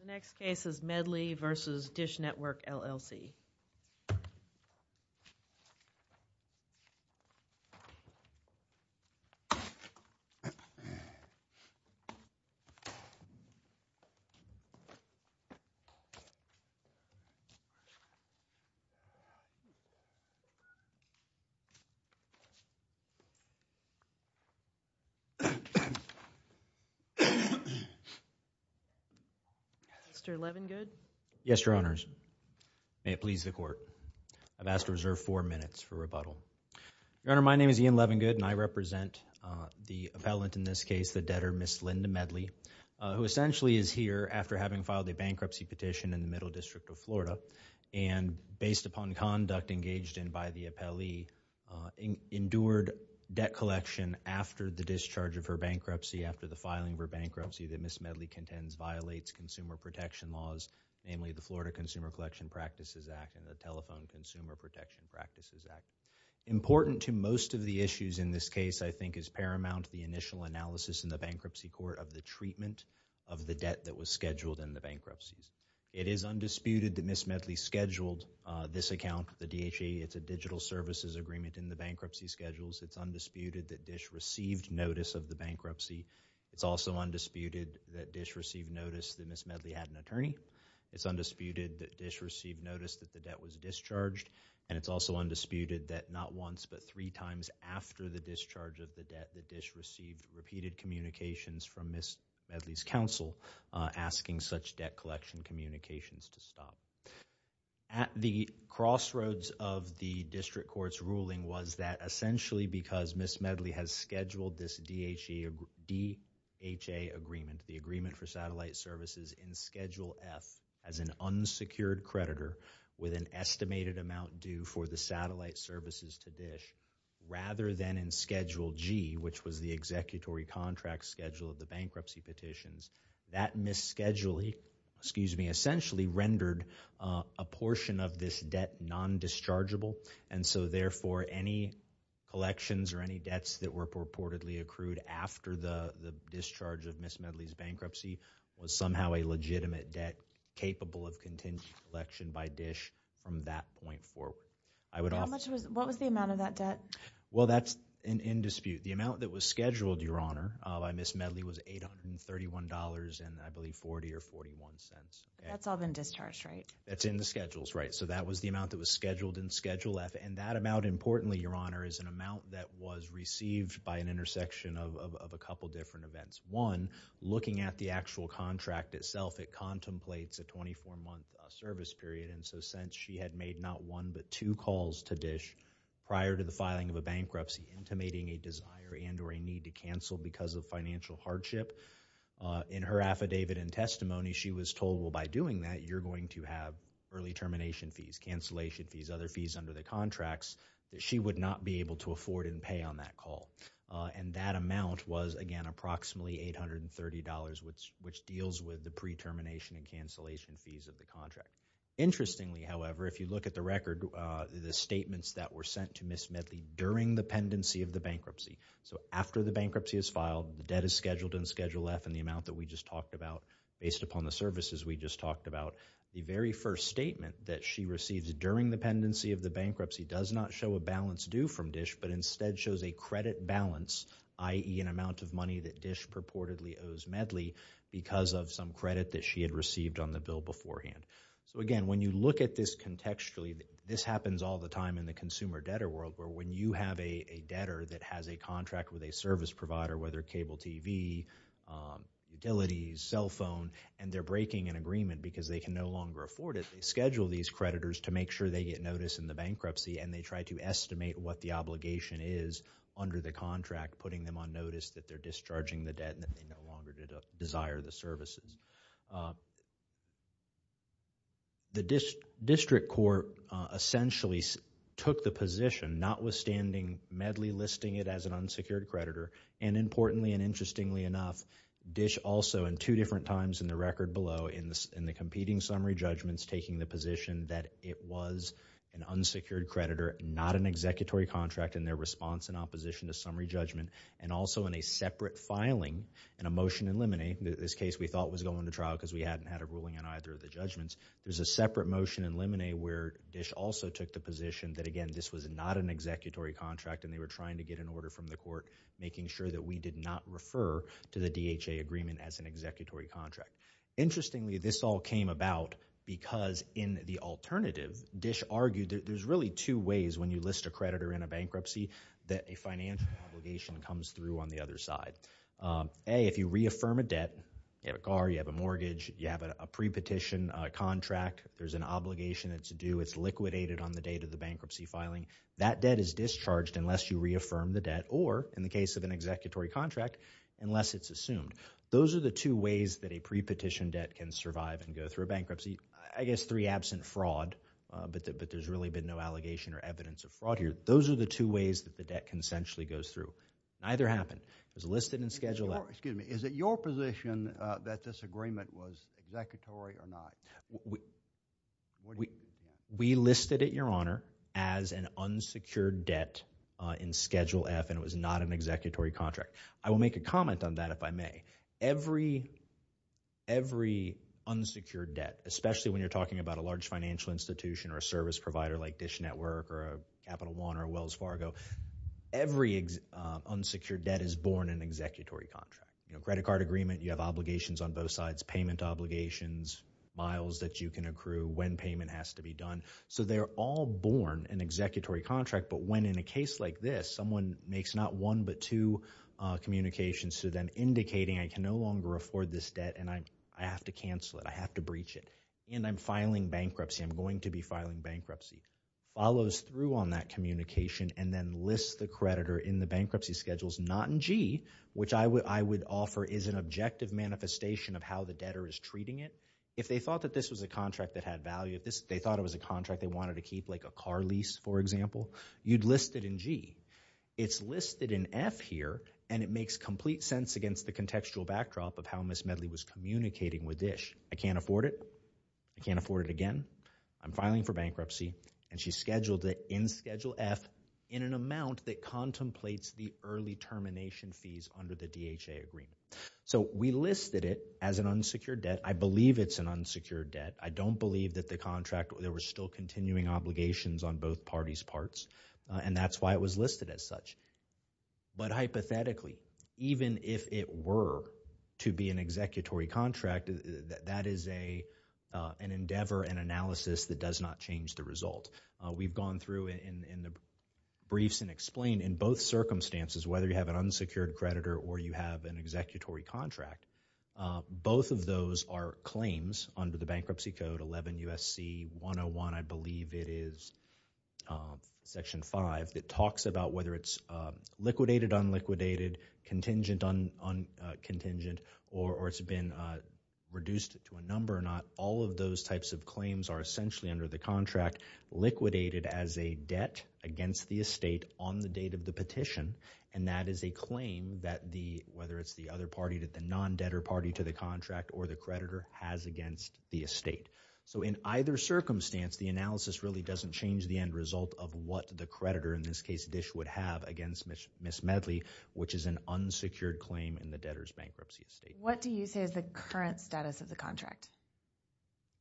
The next case is Medley v. Dish Network, LLC. Mr. Levengood? Yes, Your Honors. May it please the Court. I've asked to reserve four minutes for rebuttal. Your Honor, my name is Ian Levengood, and I represent the appellant in this case, the debtor, Ms. Linda Medley, who essentially is here after having filed a bankruptcy petition in the Middle District of Florida, and based upon conduct engaged in by the appellee, endured debt collection after the discharge of her bankruptcy, after the filing of her bankruptcy Thank you. Thank you. Thank you. Thank you. Thank you. Thank you. Thank you. Thank you. Thank you. Thank you. of the District Court's ruling was that essentially because Ms. Medley has scheduled this DHA agreement, the agreement for satellite services in Schedule F as an unsecured creditor with an estimated amount due for the satellite services to DISH rather than in Schedule G, which was the executory contract schedule of the bankruptcy petitions. That misschedule, excuse me, essentially rendered a portion of this debt non-dischargeable, and so therefore any collections or any debts that were purportedly accrued after the discharge of Ms. Medley's bankruptcy was somehow a legitimate debt capable of contingent collection by DISH from that point forward. I would offer... How much was, what was the amount of that debt? Well that's in dispute. The amount that was scheduled, Your Honor, by Ms. Medley was $831.40, I believe, or $0.41. That's all been discharged, right? That's in the schedules, right. So that was the amount that was scheduled in Schedule F, and that amount, importantly, Your Honor, is an amount that was received by an intersection of a couple different events. One, looking at the actual contract itself, it contemplates a 24-month service period, and so since she had made not one but two calls to DISH prior to the filing of a bankruptcy intimating a desire and or a need to cancel because of financial hardship, in her affidavit and testimony, she was told, well, by doing that, you're going to have early termination fees, cancellation fees, other fees under the contracts that she would not be able to afford and pay on that call. And that amount was, again, approximately $830, which deals with the pre-termination and cancellation fees of the contract. Interestingly, however, if you look at the record, the statements that were sent to Ms. Medley during the pendency of the bankruptcy, so after the bankruptcy is filed, the debt is scheduled in Schedule F, and the amount that we just talked about, based upon the services we just talked about, the very first statement that she receives during the pendency of the bankruptcy does not show a balance due from DISH, but instead shows a credit balance, i.e., an amount of money that DISH purportedly owes Medley because of some credit that she had received on the bill beforehand. So, again, when you look at this contextually, this happens all the time in the consumer debtor world, where when you have a debtor that has a contract with a service provider, whether cable TV, utilities, cell phone, and they're breaking an agreement because they can no longer afford it, they schedule these creditors to make sure they get notice in the bankruptcy, and they try to estimate what the obligation is under the contract, putting them on notice that they're discharging the debt and that they no longer desire the services. The district court essentially took the position, notwithstanding Medley listing it as an unsecured creditor, and importantly and interestingly enough, DISH also in two different times in the record below, in the competing summary judgments, taking the position that it was an unsecured creditor, not an executory contract in their response and opposition to summary judgment, and also in a separate filing, in a motion in Limine, this case we thought was going to trial because we hadn't had a ruling on either of the judgments, there's a separate motion in Limine where DISH also took the position that, again, this was not an executory contract and they were trying to get an order from the court making sure that we did not Interestingly, this all came about because in the alternative, DISH argued that there's really two ways when you list a creditor in a bankruptcy that a financial obligation comes through on the other side. A, if you reaffirm a debt, you have a car, you have a mortgage, you have a pre-petition contract, there's an obligation that's due, it's liquidated on the date of the bankruptcy filing, that debt is discharged unless you reaffirm the debt or, in the case of an executory contract, unless it's assumed. Those are the two ways that a pre-petition debt can survive and go through a bankruptcy. I guess three, absent fraud, but there's really been no allegation or evidence of fraud here. Those are the two ways that the debt consensually goes through. Neither happened. It was listed in Schedule F. Excuse me, is it your position that this agreement was executory or not? We listed it, Your Honor, as an unsecured debt in Schedule F and it was not an executory contract. I will make a comment on that if I may. Every unsecured debt, especially when you're talking about a large financial institution or a service provider like Dish Network or Capital One or Wells Fargo, every unsecured debt is born an executory contract. Credit card agreement, you have obligations on both sides, payment obligations, miles that you can accrue, when payment has to be done, so they're all born an executory contract, but when in a case like this, someone makes not one but two communications to them indicating I can no longer afford this debt and I have to cancel it, I have to breach it, and I'm filing bankruptcy, I'm going to be filing bankruptcy, follows through on that communication and then lists the creditor in the bankruptcy schedules, not in G, which I would offer is an objective manifestation of how the debtor is treating it. If they thought that this was a contract that had value, if they thought it was a contract that they wanted to keep like a car lease, for example, you'd list it in G. It's listed in F here, and it makes complete sense against the contextual backdrop of how Ms. Medley was communicating with Dish, I can't afford it, I can't afford it again, I'm filing for bankruptcy, and she's scheduled it in Schedule F in an amount that contemplates the early termination fees under the DHA agreement. So we listed it as an unsecured debt. I believe it's an unsecured debt. I don't believe that the contract, there were still continuing obligations on both parties' parts, and that's why it was listed as such. But hypothetically, even if it were to be an executory contract, that is an endeavor and analysis that does not change the result. We've gone through in the briefs and explained in both circumstances, whether you have an unsecured creditor or you have an executory contract, both of those are claims under the Bankruptcy Code, 11 U.S.C. 101, I believe it is, Section 5, that talks about whether it's liquidated, unliquidated, contingent, or it's been reduced to a number or not. All of those types of claims are essentially under the contract, liquidated as a debt against the estate on the date of the petition, and that is a claim that the, whether it's the other party, the non-debtor party to the contract or the creditor, has against the estate. So, in either circumstance, the analysis really doesn't change the end result of what the creditor, in this case, Dish, would have against Ms. Medley, which is an unsecured claim in the debtor's bankruptcy estate. What do you say is the current status of the contract?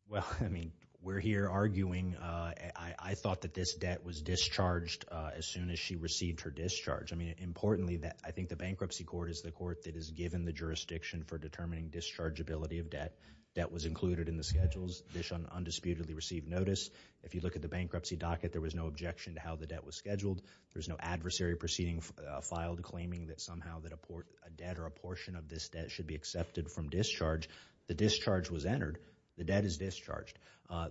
Well, I mean, we're here arguing, I thought that this debt was discharged as soon as she received her discharge. I mean, importantly, I think the Bankruptcy Court is the court that is given the jurisdiction for determining dischargeability of debt. Debt was included in the schedules. Dish undisputedly received notice. If you look at the bankruptcy docket, there was no objection to how the debt was scheduled. There's no adversary proceeding filed claiming that somehow that a debt or a portion of this debt should be accepted from discharge. The discharge was entered. The debt is discharged.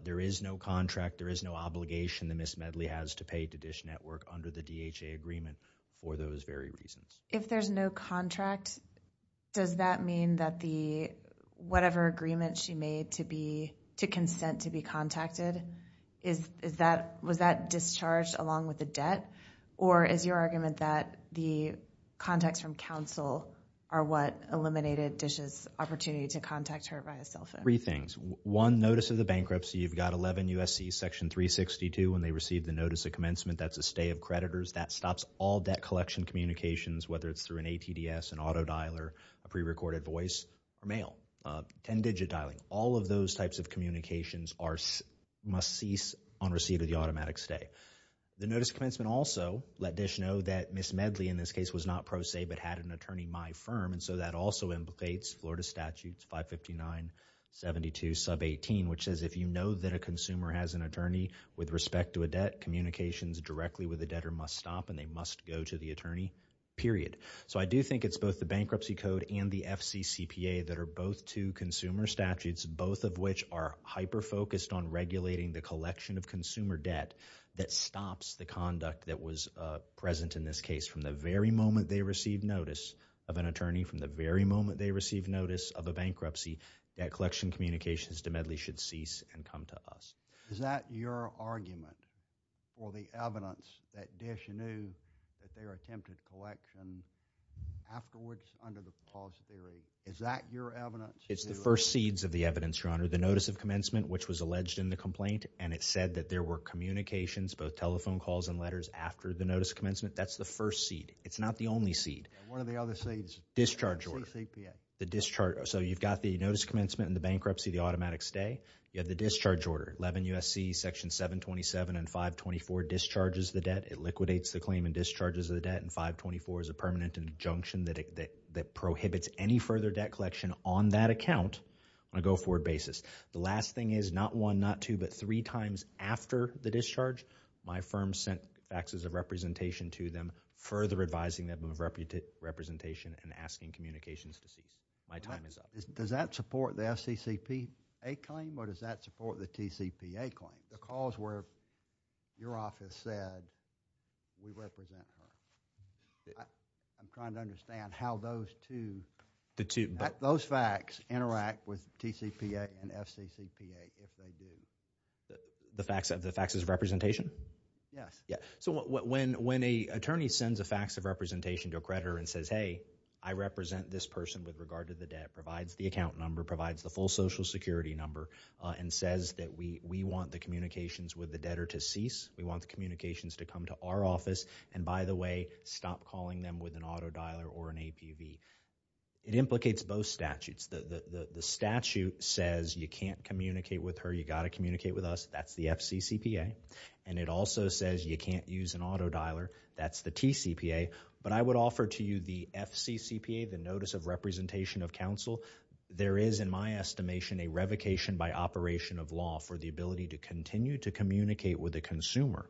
There is no contract. There is no obligation that Ms. Medley has to pay to Dish Network under the DHA agreement for those very reasons. If there's no contract, does that mean that the, whatever agreement she made to be, to consent to be contacted, is that, was that discharged along with the debt? Or is your argument that the contacts from counsel are what eliminated Dish's opportunity to contact her via cell phone? Three things. One, notice of the bankruptcy. You've got 11 U.S.C. section 362 when they received the notice of commencement. That's a stay of creditors. That stops all debt collection communications, whether it's through an ATDS, an auto dialer, a prerecorded voice, or mail. Ten-digit dialing. All of those types of communications are, must cease on receipt of the automatic stay. The notice of commencement also let Dish know that Ms. Medley, in this case, was not pro se but had an attorney, my firm, and so that also implicates Florida Statutes 559.72 sub 18, which says if you know that a consumer has an attorney with respect to a debt, communications directly with the debtor must stop and they must go to the attorney, period. So I do think it's both the Bankruptcy Code and the FCCPA that are both two consumer statutes, both of which are hyper-focused on regulating the collection of consumer debt that stops the conduct that was present in this case. From the very moment they received notice of an attorney, from the very moment they received notice of a bankruptcy, debt collection communications to Medley should cease and come to us. Is that your argument for the evidence that Dish knew that they were attempting to collect afterwards under the pause period? Is that your evidence? It's the first seeds of the evidence, Your Honor. The notice of commencement, which was alleged in the complaint, and it said that there were communications, both telephone calls and letters, after the notice of commencement. That's the first seed. It's not the only seed. And what are the other seeds? Discharge order. The CCPA. The discharge. So you've got the notice of commencement and the bankruptcy, the automatic stay. You have the discharge order, 11 U.S.C. section 727 and 524 discharges the debt. It liquidates the claim and discharges the debt, and 524 is a permanent injunction that prohibits any further debt collection on that account on a go-forward basis. The last thing is, not one, not two, but three times after the discharge, my firm sent faxes of representation to them, further advising them of representation and asking communications to cease. My time is up. Does that support the FCCPA claim, or does that support the TCPA claim? The calls where your office said, we represent her. I'm trying to understand how those two, those fax interact with TCPA and FCCPA, if they do. The faxes of representation? Yes. So when an attorney sends a fax of representation to a creditor and says, hey, I represent this person, provides the account number, provides the full social security number, and says that we want the communications with the debtor to cease, we want the communications to come to our office, and by the way, stop calling them with an auto dialer or an APV, it implicates both statutes. The statute says you can't communicate with her, you've got to communicate with us, that's the FCCPA, and it also says you can't use an auto dialer, that's the TCPA, but I would offer to you the FCCPA, the notice of representation of counsel. There is, in my estimation, a revocation by operation of law for the ability to continue to communicate with a consumer.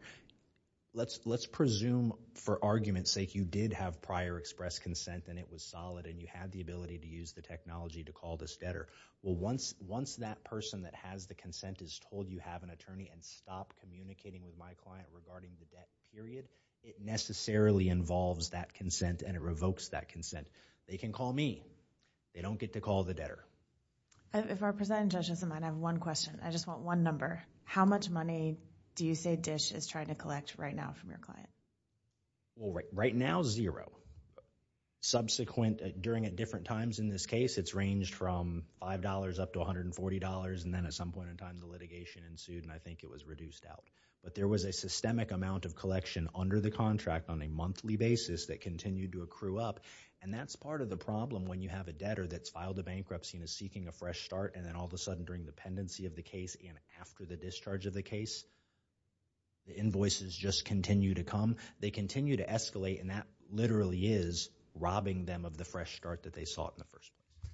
Let's presume, for argument's sake, you did have prior express consent and it was solid and you had the ability to use the technology to call this debtor, well, once that person that has the consent is told you have an attorney and stop communicating with my client regarding the debt, period, it necessarily involves that consent and it revokes that consent. They can call me, they don't get to call the debtor. If our presiding judge doesn't mind, I have one question, I just want one number. How much money do you say DISH is trying to collect right now from your client? Right now, zero. Subsequent, during different times in this case, it's ranged from $5 up to $140 and then at some point in time the litigation ensued and I think it was reduced out, but there was a systemic amount of collection under the contract on a monthly basis that continued to accrue up and that's part of the problem when you have a debtor that's filed a bankruptcy and is seeking a fresh start and then all of a sudden during the pendency of the case and after the discharge of the case, the invoices just continue to come. They continue to escalate and that literally is robbing them of the fresh start that they sought in the first place.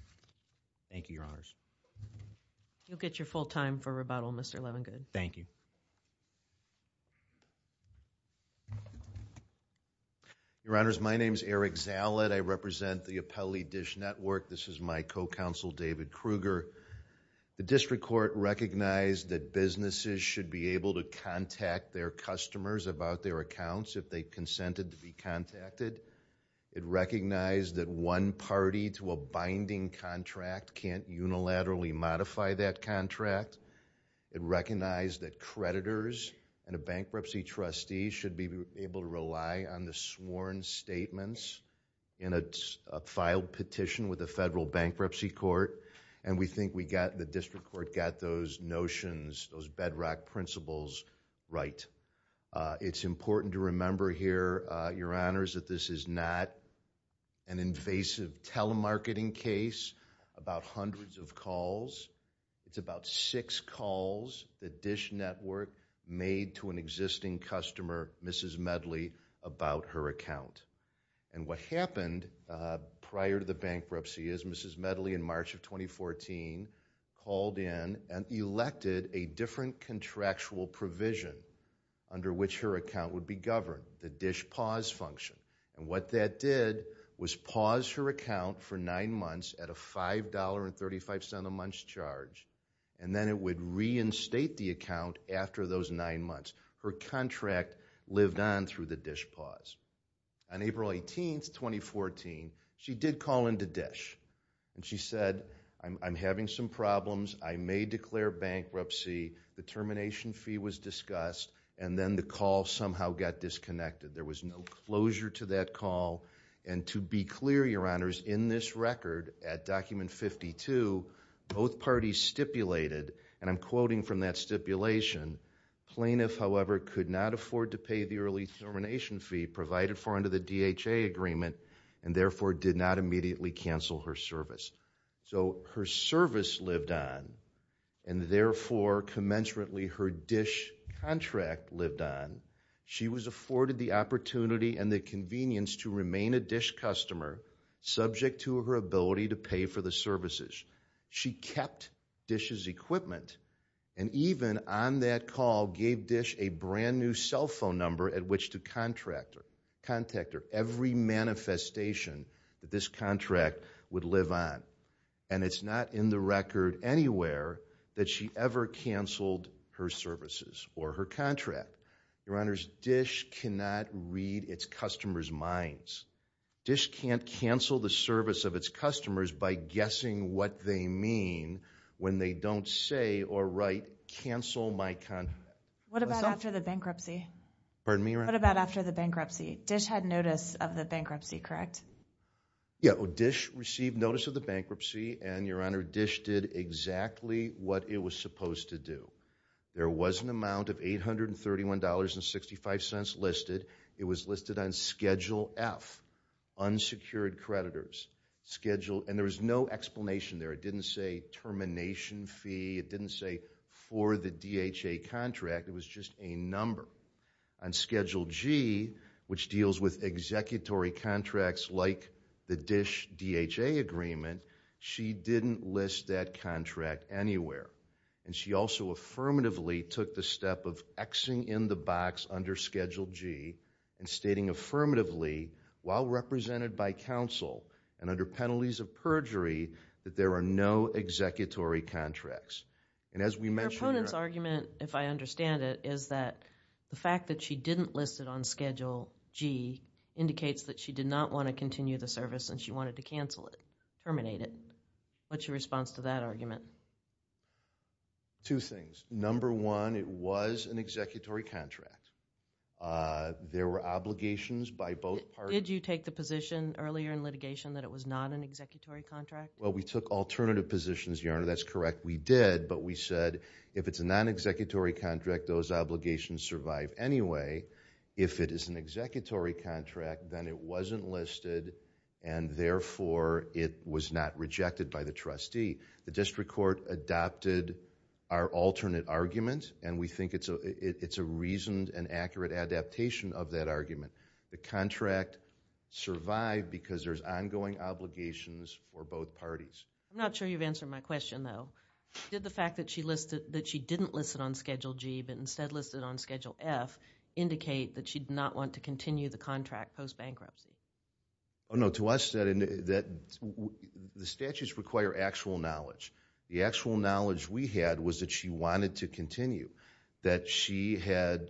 Thank you, Your Honors. You'll get your full time for rebuttal, Mr. Levengood. Thank you. Your Honors, my name is Eric Zalit. I represent the Appellee DISH Network. This is my co-counsel, David Kruger. The District Court recognized that businesses should be able to contact their customers about their accounts if they consented to be contacted. It recognized that one party to a binding contract can't unilaterally modify that contract. It recognized that creditors and a bankruptcy trustee should be able to rely on the sworn statements in a filed petition with the Federal Bankruptcy Court and we think we got, the District Court got those notions, those bedrock principles right. It's important to remember here, Your Honors, that this is not an invasive telemarketing case about hundreds of calls. It's about six calls that DISH Network made to an existing customer, Mrs. Medley, about her account. And what happened prior to the bankruptcy is Mrs. Medley in March of 2014 called in and elected a different contractual provision under which her account would be governed, the DISH pause function. And what that did was pause her account for nine months at a $5.35 a month charge and then it would reinstate the account after those nine months. Her contract lived on through the DISH pause. On April 18th, 2014, she did call into DISH and she said, I'm having some problems. I may declare bankruptcy. The termination fee was discussed and then the call somehow got disconnected. There was no closure to that call. And to be clear, Your Honors, in this record at Document 52, both parties stipulated, and I'm quoting from that stipulation, plaintiff, however, could not afford to pay the early termination fee provided for under the DHA agreement and therefore did not immediately cancel her service. So her service lived on and therefore, commensurately, her DISH contract lived on. She was afforded the opportunity and the convenience to remain a DISH customer subject to her ability to pay for the services. She kept DISH's equipment and even on that call gave DISH a brand new cell phone number at which to contact her. Every manifestation that this contract would live on. And it's not in the record anywhere that she ever canceled her services or her contract. Your Honors, DISH cannot read its customers' minds. DISH can't cancel the service of its customers by guessing what they mean when they don't say or write, cancel my contract. What about after the bankruptcy? Pardon me, Your Honor? What about after the bankruptcy? DISH had notice of the bankruptcy, correct? Yeah, DISH received notice of the bankruptcy and Your Honor, DISH did exactly what it was supposed to do. There was an amount of $831.65 listed. It was listed on Schedule F, unsecured creditors. And there was no explanation there. It didn't say termination fee, it didn't say for the DHA contract, it was just a number. On Schedule G, which deals with executory contracts like the DISH DHA agreement, she didn't list that contract anywhere. And she also affirmatively took the step of X-ing in the box under Schedule G and stating affirmatively while represented by counsel and under penalties of perjury that there are no executory contracts. And as we mentioned, Your Honor. Your opponent's argument, if I understand it, is that the fact that she didn't list it on Schedule G indicates that she did not want to continue the service and she wanted to cancel it, terminate it. What's your response to that argument? Two things. Number one, it was an executory contract. There were obligations by both parties. Did you take the position earlier in litigation that it was not an executory contract? Well, we took alternative positions, Your Honor. That's correct. We did, but we said if it's a non-executory contract, those obligations survive anyway. If it is an executory contract, then it wasn't listed and therefore, it was not rejected by the trustee. The district court adopted our alternate argument and we think it's a reasoned and accurate adaptation of that argument. The contract survived because there's ongoing obligations for both parties. I'm not sure you've answered my question though. Did the fact that she didn't list it on Schedule G but instead listed it on Schedule F indicate that she did not want to continue the contract post-bankruptcy? No. To us, the statutes require actual knowledge. The actual knowledge we had was that she wanted to continue, that she had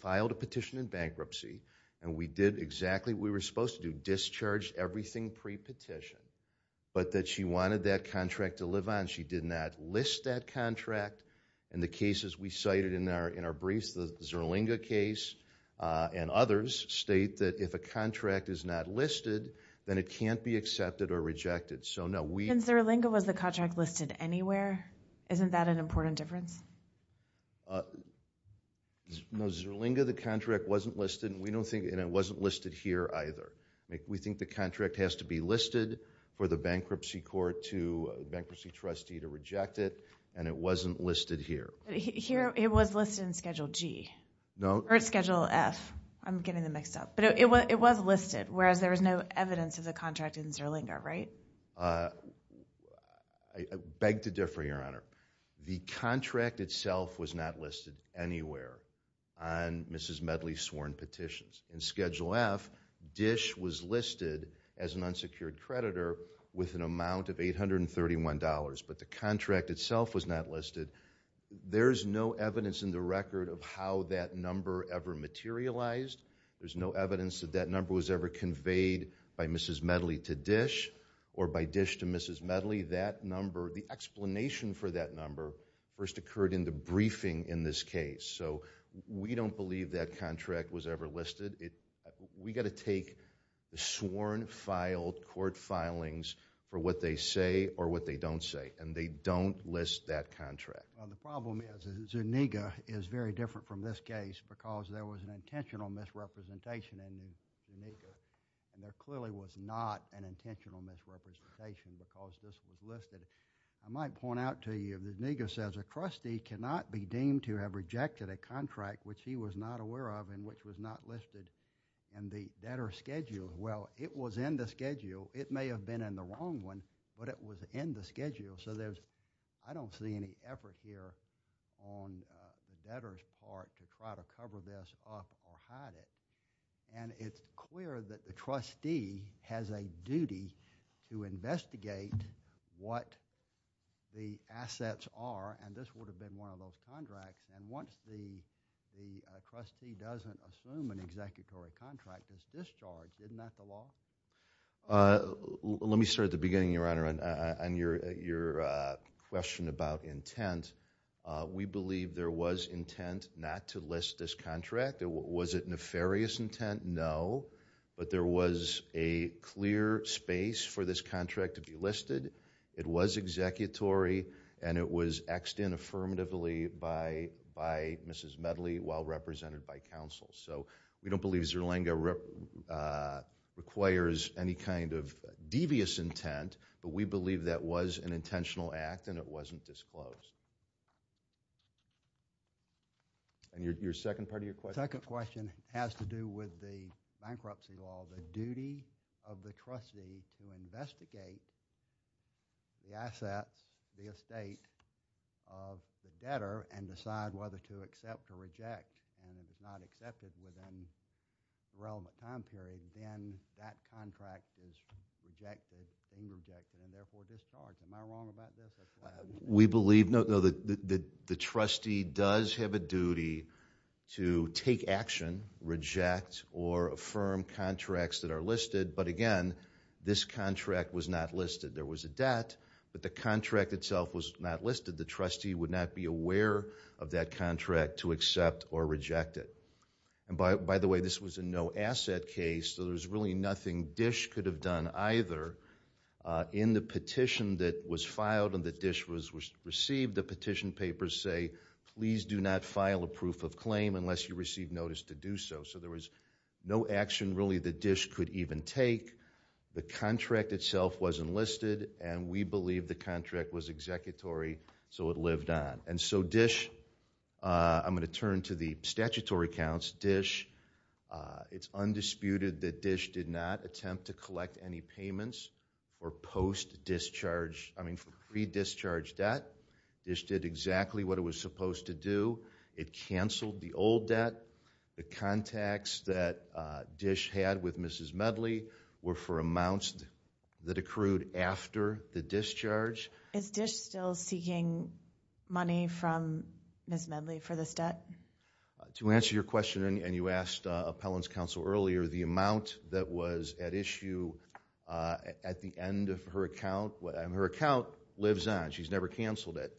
filed a petition in bankruptcy and we did exactly what we were supposed to do, discharged everything pre-petition, but that she wanted that contract to live on. She did not list that contract. In the cases we cited in our briefs, the Zerlinga case and others state that if a contract is not listed, then it can't be accepted or rejected. So no, we- In Zerlinga, was the contract listed anywhere? Isn't that an important difference? No, Zerlinga, the contract wasn't listed and it wasn't listed here either. We think the contract has to be listed for the bankruptcy court to, the bankruptcy trustee to reject it and it wasn't listed here. Here, it was listed in Schedule G or Schedule F. I'm getting them mixed up, but it was listed whereas there was no evidence of the contract in Zerlinga, right? I beg to differ, Your Honor. The contract itself was not listed anywhere on Mrs. Medley's sworn petitions. In Schedule F, Dish was listed as an unsecured creditor with an amount of $831, but the contract itself was not listed. There's no evidence in the record of how that number ever materialized. There's no evidence that that number was ever conveyed by Mrs. Medley to Dish or by Dish to Mrs. Medley. That number, the explanation for that number first occurred in the briefing in this case. We don't believe that contract was ever listed. We got to take the sworn filed court filings for what they say or what they don't say and they don't list that contract. The problem is Zerlinga is very different from this case because there was an intentional misrepresentation in Zerlinga and there clearly was not an intentional misrepresentation because this was listed. I might point out to you, Zerlinga says a trustee cannot be deemed to have rejected a contract which he was not aware of and which was not listed in the debtor's schedule. Well, it was in the schedule. It may have been in the wrong one, but it was in the schedule. So I don't see any effort here on the debtor's part to try to cover this up or hide it. It's clear that the trustee has a duty to investigate what the assets are and this would have been one of those contracts and once the trustee doesn't assume an executory contract is discharged. Isn't that the law? Let me start at the beginning, Your Honor, on your question about intent. We believe there was intent not to list this contract. Was it nefarious intent? No, but there was a clear space for this contract to be listed. It was executory and it was X'd in affirmatively by Mrs. Medley while represented by counsel. So we don't believe Zerlinga requires any kind of devious intent, but we believe that was an intentional act and it wasn't disclosed. And your second part of your question? The second question has to do with the bankruptcy law, the duty of the trustee to investigate the assets, the estate of the debtor and decide whether to accept or reject and if it's not accepted within a relevant time period, then that contract is rejected, being rejected and therefore discharged. Am I wrong about this? We believe, no, that the trustee does have a duty to take action, reject or affirm contracts that are listed, but again, this contract was not listed. There was a debt, but the contract itself was not listed. The trustee would not be aware of that contract to accept or reject it. And by the way, this was a no-asset case, so there was really nothing Dish could have done either in the petition that was filed and that Dish received. The petition papers say, please do not file a proof of claim unless you receive notice to do so. So there was no action really that Dish could even take. The contract itself was enlisted and we believe the contract was executory, so it lived on. And so Dish, I'm going to turn to the statutory counts. It's undisputed that Dish did not attempt to collect any payments or post-discharge, I mean for pre-discharge debt. Dish did exactly what it was supposed to do. It canceled the old debt. The contacts that Dish had with Mrs. Medley were for amounts that accrued after the discharge. Is Dish still seeking money from Mrs. Medley for this debt? To answer your question, and you asked Appellant's Counsel earlier, the amount that was at issue at the end of her account, and her account lives on. She's never canceled it.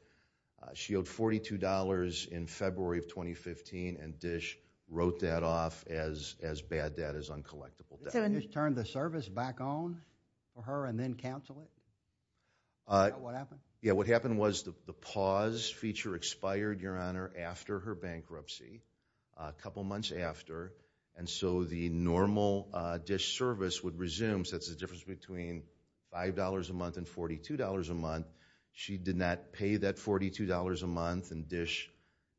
She owed $42 in February of 2015 and Dish wrote that off as bad debt, as uncollectible debt. Did someone just turn the service back on for her and then cancel it? Is that what happened? Yeah, what happened was the pause feature expired, Your Honor, after her bankruptcy, a couple months after. And so the normal Dish service would resume, so that's the difference between $5 a month and $42 a month. She did not pay that $42 a month, and Dish,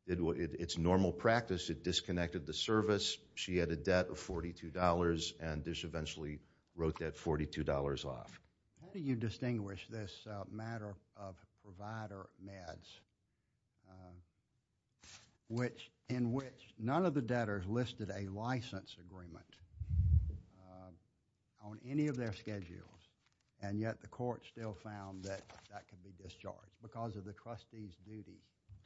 it's normal practice, it disconnected the service. She had a debt of $42, and Dish eventually wrote that $42 off. How do you distinguish this matter of provider meds, in which none of the debtors listed a license agreement on any of their schedules, and yet the court still found that that could be discharged because of the trustee's duty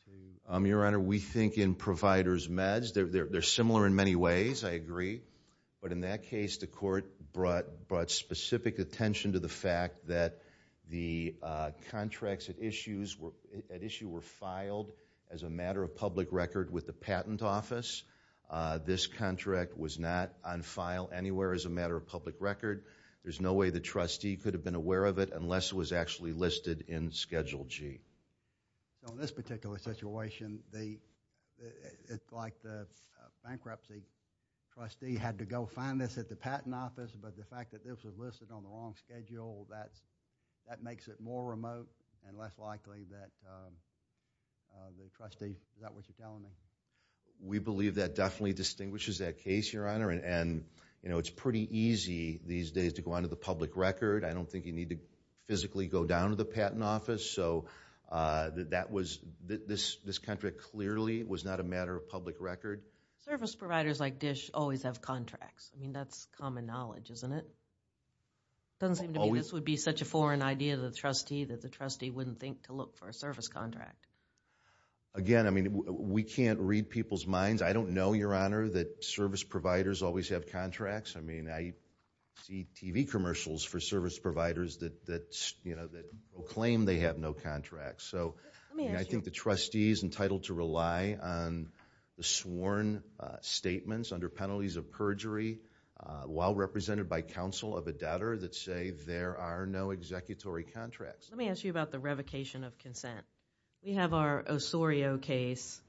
to? Your Honor, we think in providers' meds, they're similar in many ways, I agree, but in that case, the court brought specific attention to the fact that the contracts at issue were filed as a matter of public record with the patent office. This contract was not on file anywhere as a matter of public record. There's no way the trustee could have been aware of it unless it was actually listed in Schedule G. In this particular situation, it's like the bankruptcy trustee had to go find this at the patent office, but the fact that this was listed on the long schedule, that makes it more remote and less likely that the trustee, is that what you're telling me? We believe that definitely distinguishes that case, Your Honor, and it's pretty easy these days to go under the public record. I don't think you need to physically go down to the patent office, so this contract clearly was not a matter of public record. Service providers like DISH always have contracts. I mean, that's common knowledge, isn't it? It doesn't seem to me this would be such a foreign idea to the trustee that the trustee wouldn't think to look for a service contract. Again, we can't read people's minds. I don't know, Your Honor, that service providers always have contracts. I mean, I see TV commercials for service providers that proclaim they have no contracts. So I think the trustee is entitled to rely on the sworn statements under penalties of perjury while represented by counsel of a doubter that say there are no executory contracts. Let me ask you about the revocation of consent. We have our Osorio case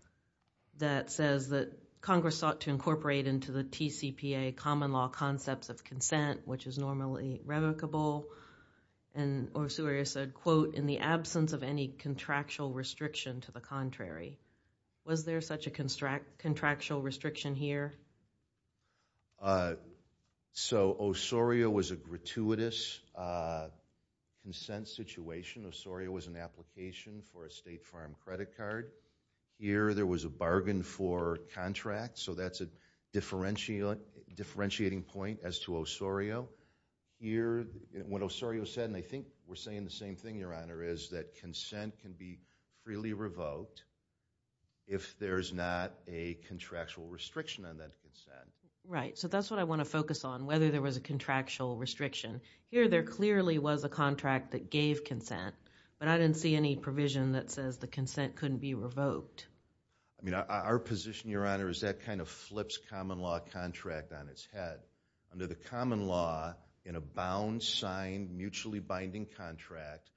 that says that Congress sought to incorporate into the TCPA common law concepts of consent, which is normally revocable, and Osorio said, quote, in the absence of any contractual restriction to the contrary. Was there such a contractual restriction here? So Osorio was a gratuitous consent situation. Osorio was an application for a State Farm credit card. Here there was a bargain for contract, so that's a differentiating point as to Osorio. Here, what Osorio said, and I think we're saying the same thing, Your Honor, is that consent can be freely revoked if there is not a contractual restriction on that consent. Right, so that's what I want to focus on, whether there was a contractual restriction. Here there clearly was a contract that gave consent, but I didn't see any provision that says the consent couldn't be revoked. Our position, Your Honor, is that kind of flips common law contract on its head. Under the common law, in a bound, signed, mutually binding contract,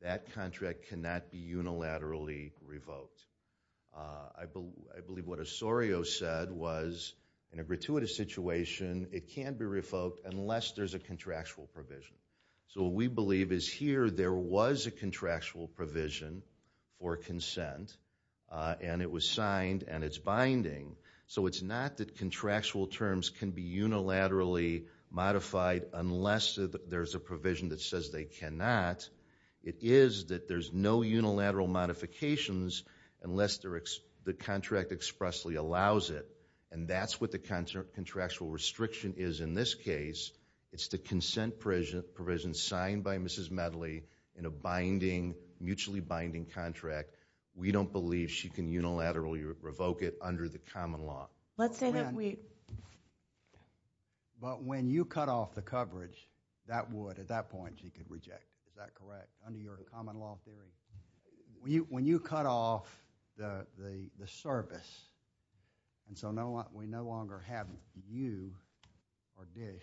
that contract cannot be unilaterally revoked. I believe what Osorio said was, in a gratuitous situation, it can't be revoked unless there's a contractual provision. So what we believe is here there was a contractual provision for consent, and it was signed, and it's binding. So it's not that contractual terms can be unilaterally modified unless there's a provision that says they cannot. It is that there's no unilateral modifications unless the contract expressly allows it, and that's what the contractual restriction is in this case. It's the consent provision signed by Mrs. Medley in a mutually binding contract. We don't believe she can unilaterally revoke it under the common law. Let's say that we... But when you cut off the coverage, that would, at that point, she could reject. Is that correct, under your common law theory? When you cut off the service, and so we no longer have you or Dish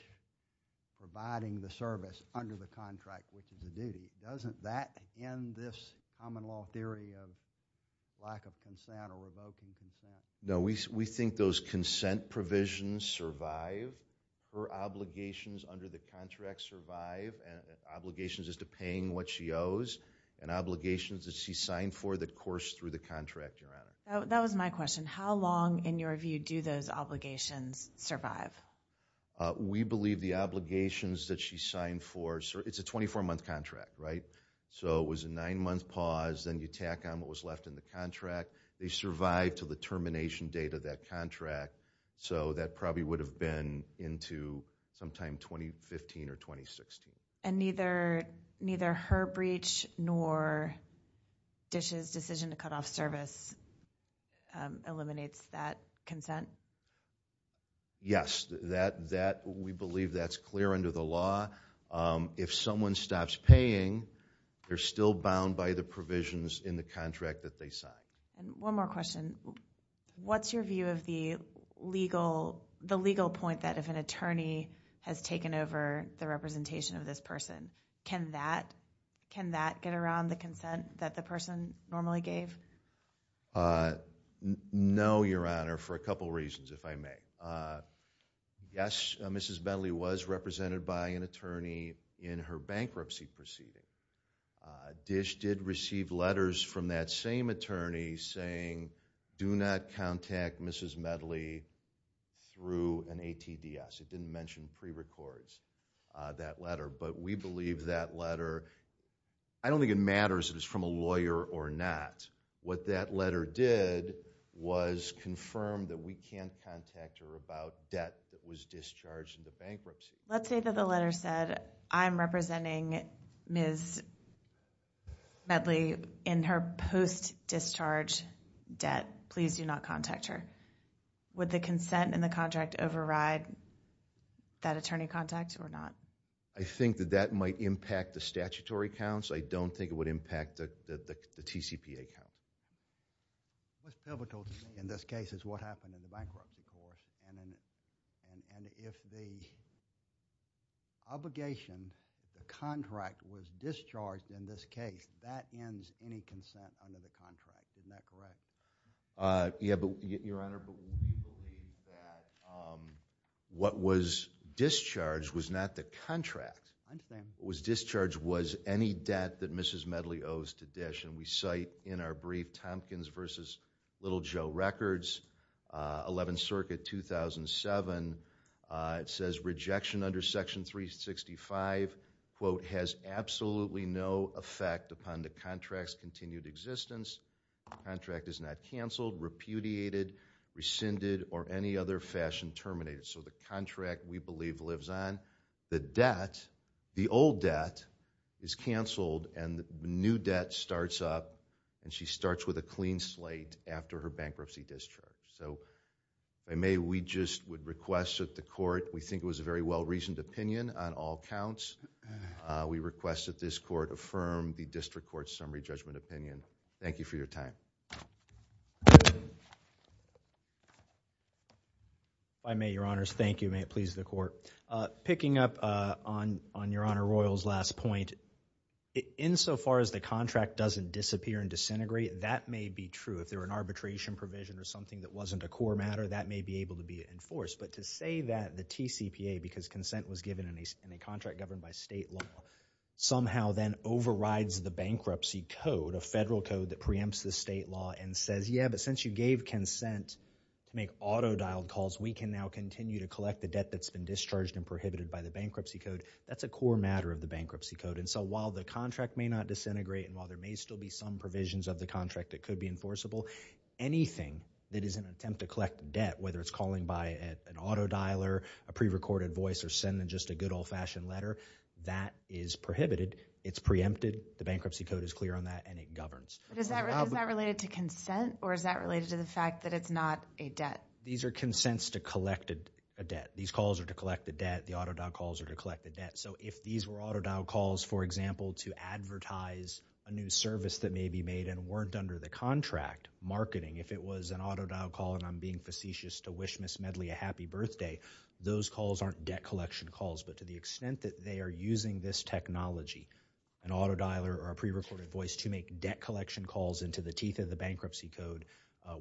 providing the service under the contract, which is a duty, doesn't that end this common law theory of lack of consent or revoking consent? No, we think those consent provisions survive. Her obligations under the contract survive, and obligations as to paying what she owes, and obligations that she signed for that course through the contract, Your Honor. That was my question. How long, in your view, do those obligations survive? We believe the obligations that she signed for... It's a 24-month contract, right? So it was a nine-month pause. Then you tack on what was left in the contract. They survived to the termination date of that contract, so that probably would have been into sometime 2015 or 2016. And neither her breach nor Dish's decision to cut off service eliminates that consent? Yes. We believe that's clear under the law. If someone stops paying, they're still bound by the provisions in the contract that they signed. One more question. What's your view of the legal point that if an attorney has taken over the representation of this person, can that get around the consent that the person normally gave? No, Your Honor, for a couple reasons, if I may. Yes, Mrs. Medley was represented by an attorney in her bankruptcy proceeding. Dish did receive letters from that same attorney saying, do not contact Mrs. Medley through an ATDS. It didn't mention prerecords, that letter. But we believe that letter... I don't think it matters if it's from a lawyer or not. What that letter did was confirm that we can't contact her about debt that was discharged in the bankruptcy. Let's say that the letter said, I'm representing Ms. Medley in her post-discharge debt. Please do not contact her. Would the consent in the contract override that attorney contact or not? I think that that might impact the statutory counts. I don't think it would impact the TCPA count. What's pivotal to me in this case is what happened in the bankruptcy court. And if the obligation, the contract was discharged in this case, that ends any consent under the contract. Isn't that correct? Yes, Your Honor, but we believe that what was discharged was not the contract. I understand. What was discharged was any debt that Mrs. Medley owes to Dish. We cite in our brief, Tompkins v. Little Joe Records, 11th Circuit, 2007. It says rejection under Section 365, quote, has absolutely no effect upon the contract's continued existence. The contract is not canceled, repudiated, rescinded, or any other fashion terminated. So the contract, we believe, lives on. The debt, the old debt, is canceled, and the new debt starts up. And she starts with a clean slate after her bankruptcy discharge. So if I may, we just would request that the court, we think it was a very well-reasoned opinion on all counts. We request that this court affirm the district court's summary judgment opinion. Thank you for your time. If I may, Your Honors, thank you. May it please the court. Picking up on Your Honor Royal's last point, insofar as the contract doesn't disappear and disintegrate, that may be true. If there were an arbitration provision or something that wasn't a core matter, that may be able to be enforced. But to say that the TCPA, because consent was given in a contract governed by state law, somehow then overrides the bankruptcy code, a federal code that preempts the state law, and says, yeah, but since you gave consent to make auto-dialed calls, we can now continue to collect the debt that's been discharged and prohibited by the bankruptcy code, that's a core matter of the bankruptcy code. And so while the contract may not disintegrate and while there may still be some provisions of the contract that could be enforceable, anything that is an attempt to collect debt, whether it's calling by an auto-dialer, a pre-recorded voice, or sending just a good old-fashioned letter, that is prohibited. It's preempted. The bankruptcy code is clear on that, and it governs. But is that related to consent, or is that related to the fact that it's not a debt? These are consents to collect a debt. These calls are to collect the debt. The auto-dialed calls are to collect the debt. So if these were auto-dialed calls, for example, to advertise a new service that may be made and weren't under the contract, marketing, if it was an auto-dialed call and I'm being facetious to wish Ms. Medley a happy birthday, those calls aren't debt collection calls. But to the extent that they are using this technology, an auto-dialer or a pre-recorded voice, to make debt collection calls into the teeth of the bankruptcy code,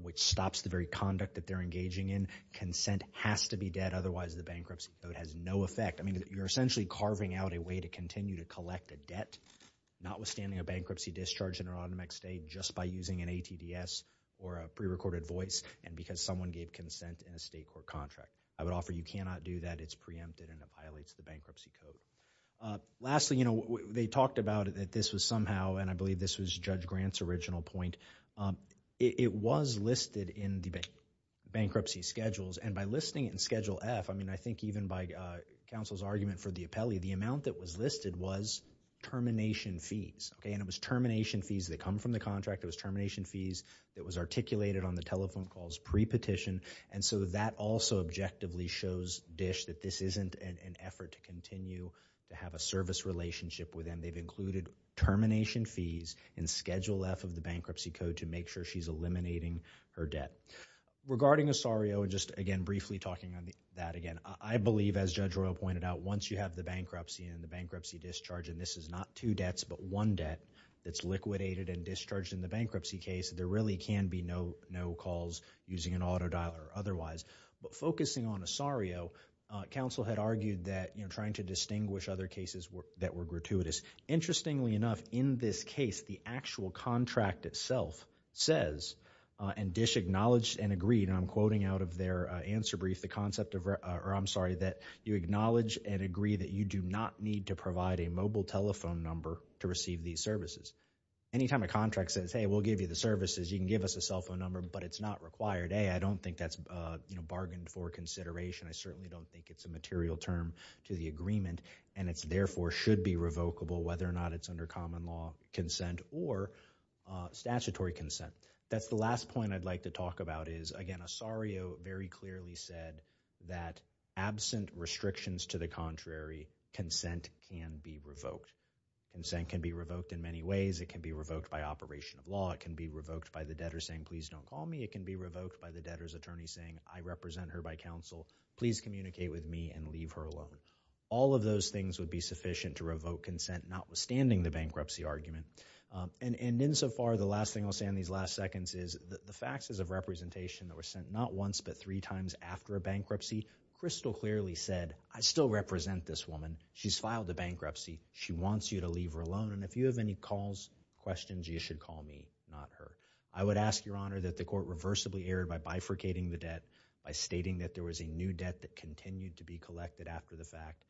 which stops the very conduct that they're engaging in, consent has to be debt. Otherwise, the bankruptcy code has no effect. I mean, you're essentially carving out a way to continue to collect a debt, notwithstanding a bankruptcy discharge in an automatic state just by using an ATDS or a pre-recorded voice and because someone gave consent in a state court contract. I would offer you cannot do that. It's preempted and it violates the bankruptcy code. Lastly, they talked about it that this was somehow, and I believe this was Judge Grant's original point. It was listed in the bankruptcy schedules, and by listing it in Schedule F, I mean, I think even by counsel's argument for the appellee, the amount that was listed was termination fees, and it was termination fees that come from the contract. It was termination fees that was articulated on the telephone calls pre-petition, and so that also objectively shows DISH that this isn't an effort to continue to have a service relationship with them. They've included termination fees in Schedule F of the bankruptcy code to make sure she's eliminating her debt. Regarding Osario, and just, again, briefly talking on that again, I believe, as Judge Royal pointed out, once you have the bankruptcy and the bankruptcy discharge, and this is not two debts but one debt that's liquidated and discharged in the bankruptcy case, there really can be no calls using an auto dialer or otherwise. But focusing on Osario, counsel had argued that trying to distinguish other cases that were gratuitous. Interestingly enough, in this case, the actual contract itself says, and DISH acknowledged and agreed, and I'm quoting out of their answer brief the concept of, or I'm sorry, that you acknowledge and agree that you do not need to provide a mobile telephone number to receive these services. Anytime a contract says, hey, we'll give you the services, you can give us a cell phone number, but it's not required. A, I don't think that's bargained for consideration. I certainly don't think it's a material term to the agreement, and it's therefore should be revocable, whether or not it's under common law consent or statutory consent. That's the last point I'd like to talk about is, again, Osario very clearly said that absent restrictions to the contrary, consent can be revoked. Consent can be revoked in many ways. It can be revoked by operation of law. It can be revoked by the debtor saying, please don't call me. It can be revoked by the debtor's attorney saying, I represent her by counsel. Please communicate with me and leave her alone. All of those things would be sufficient to revoke consent, notwithstanding the bankruptcy argument. And insofar, the last thing I'll say in these last seconds is the faxes of representation that were sent not once but three times after a bankruptcy, Crystal clearly said, I still represent this woman. She's filed a bankruptcy. She wants you to leave her alone. And if you have any calls, questions, you should call me, not her. I would ask, Your Honor, that the court reversibly err by bifurcating the debt, by stating that there was a new debt that continued to be collected after the fact,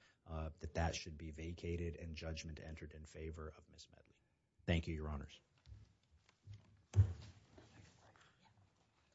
that that should be vacated and judgment entered in favor of this measure. Thank you, Your Honors.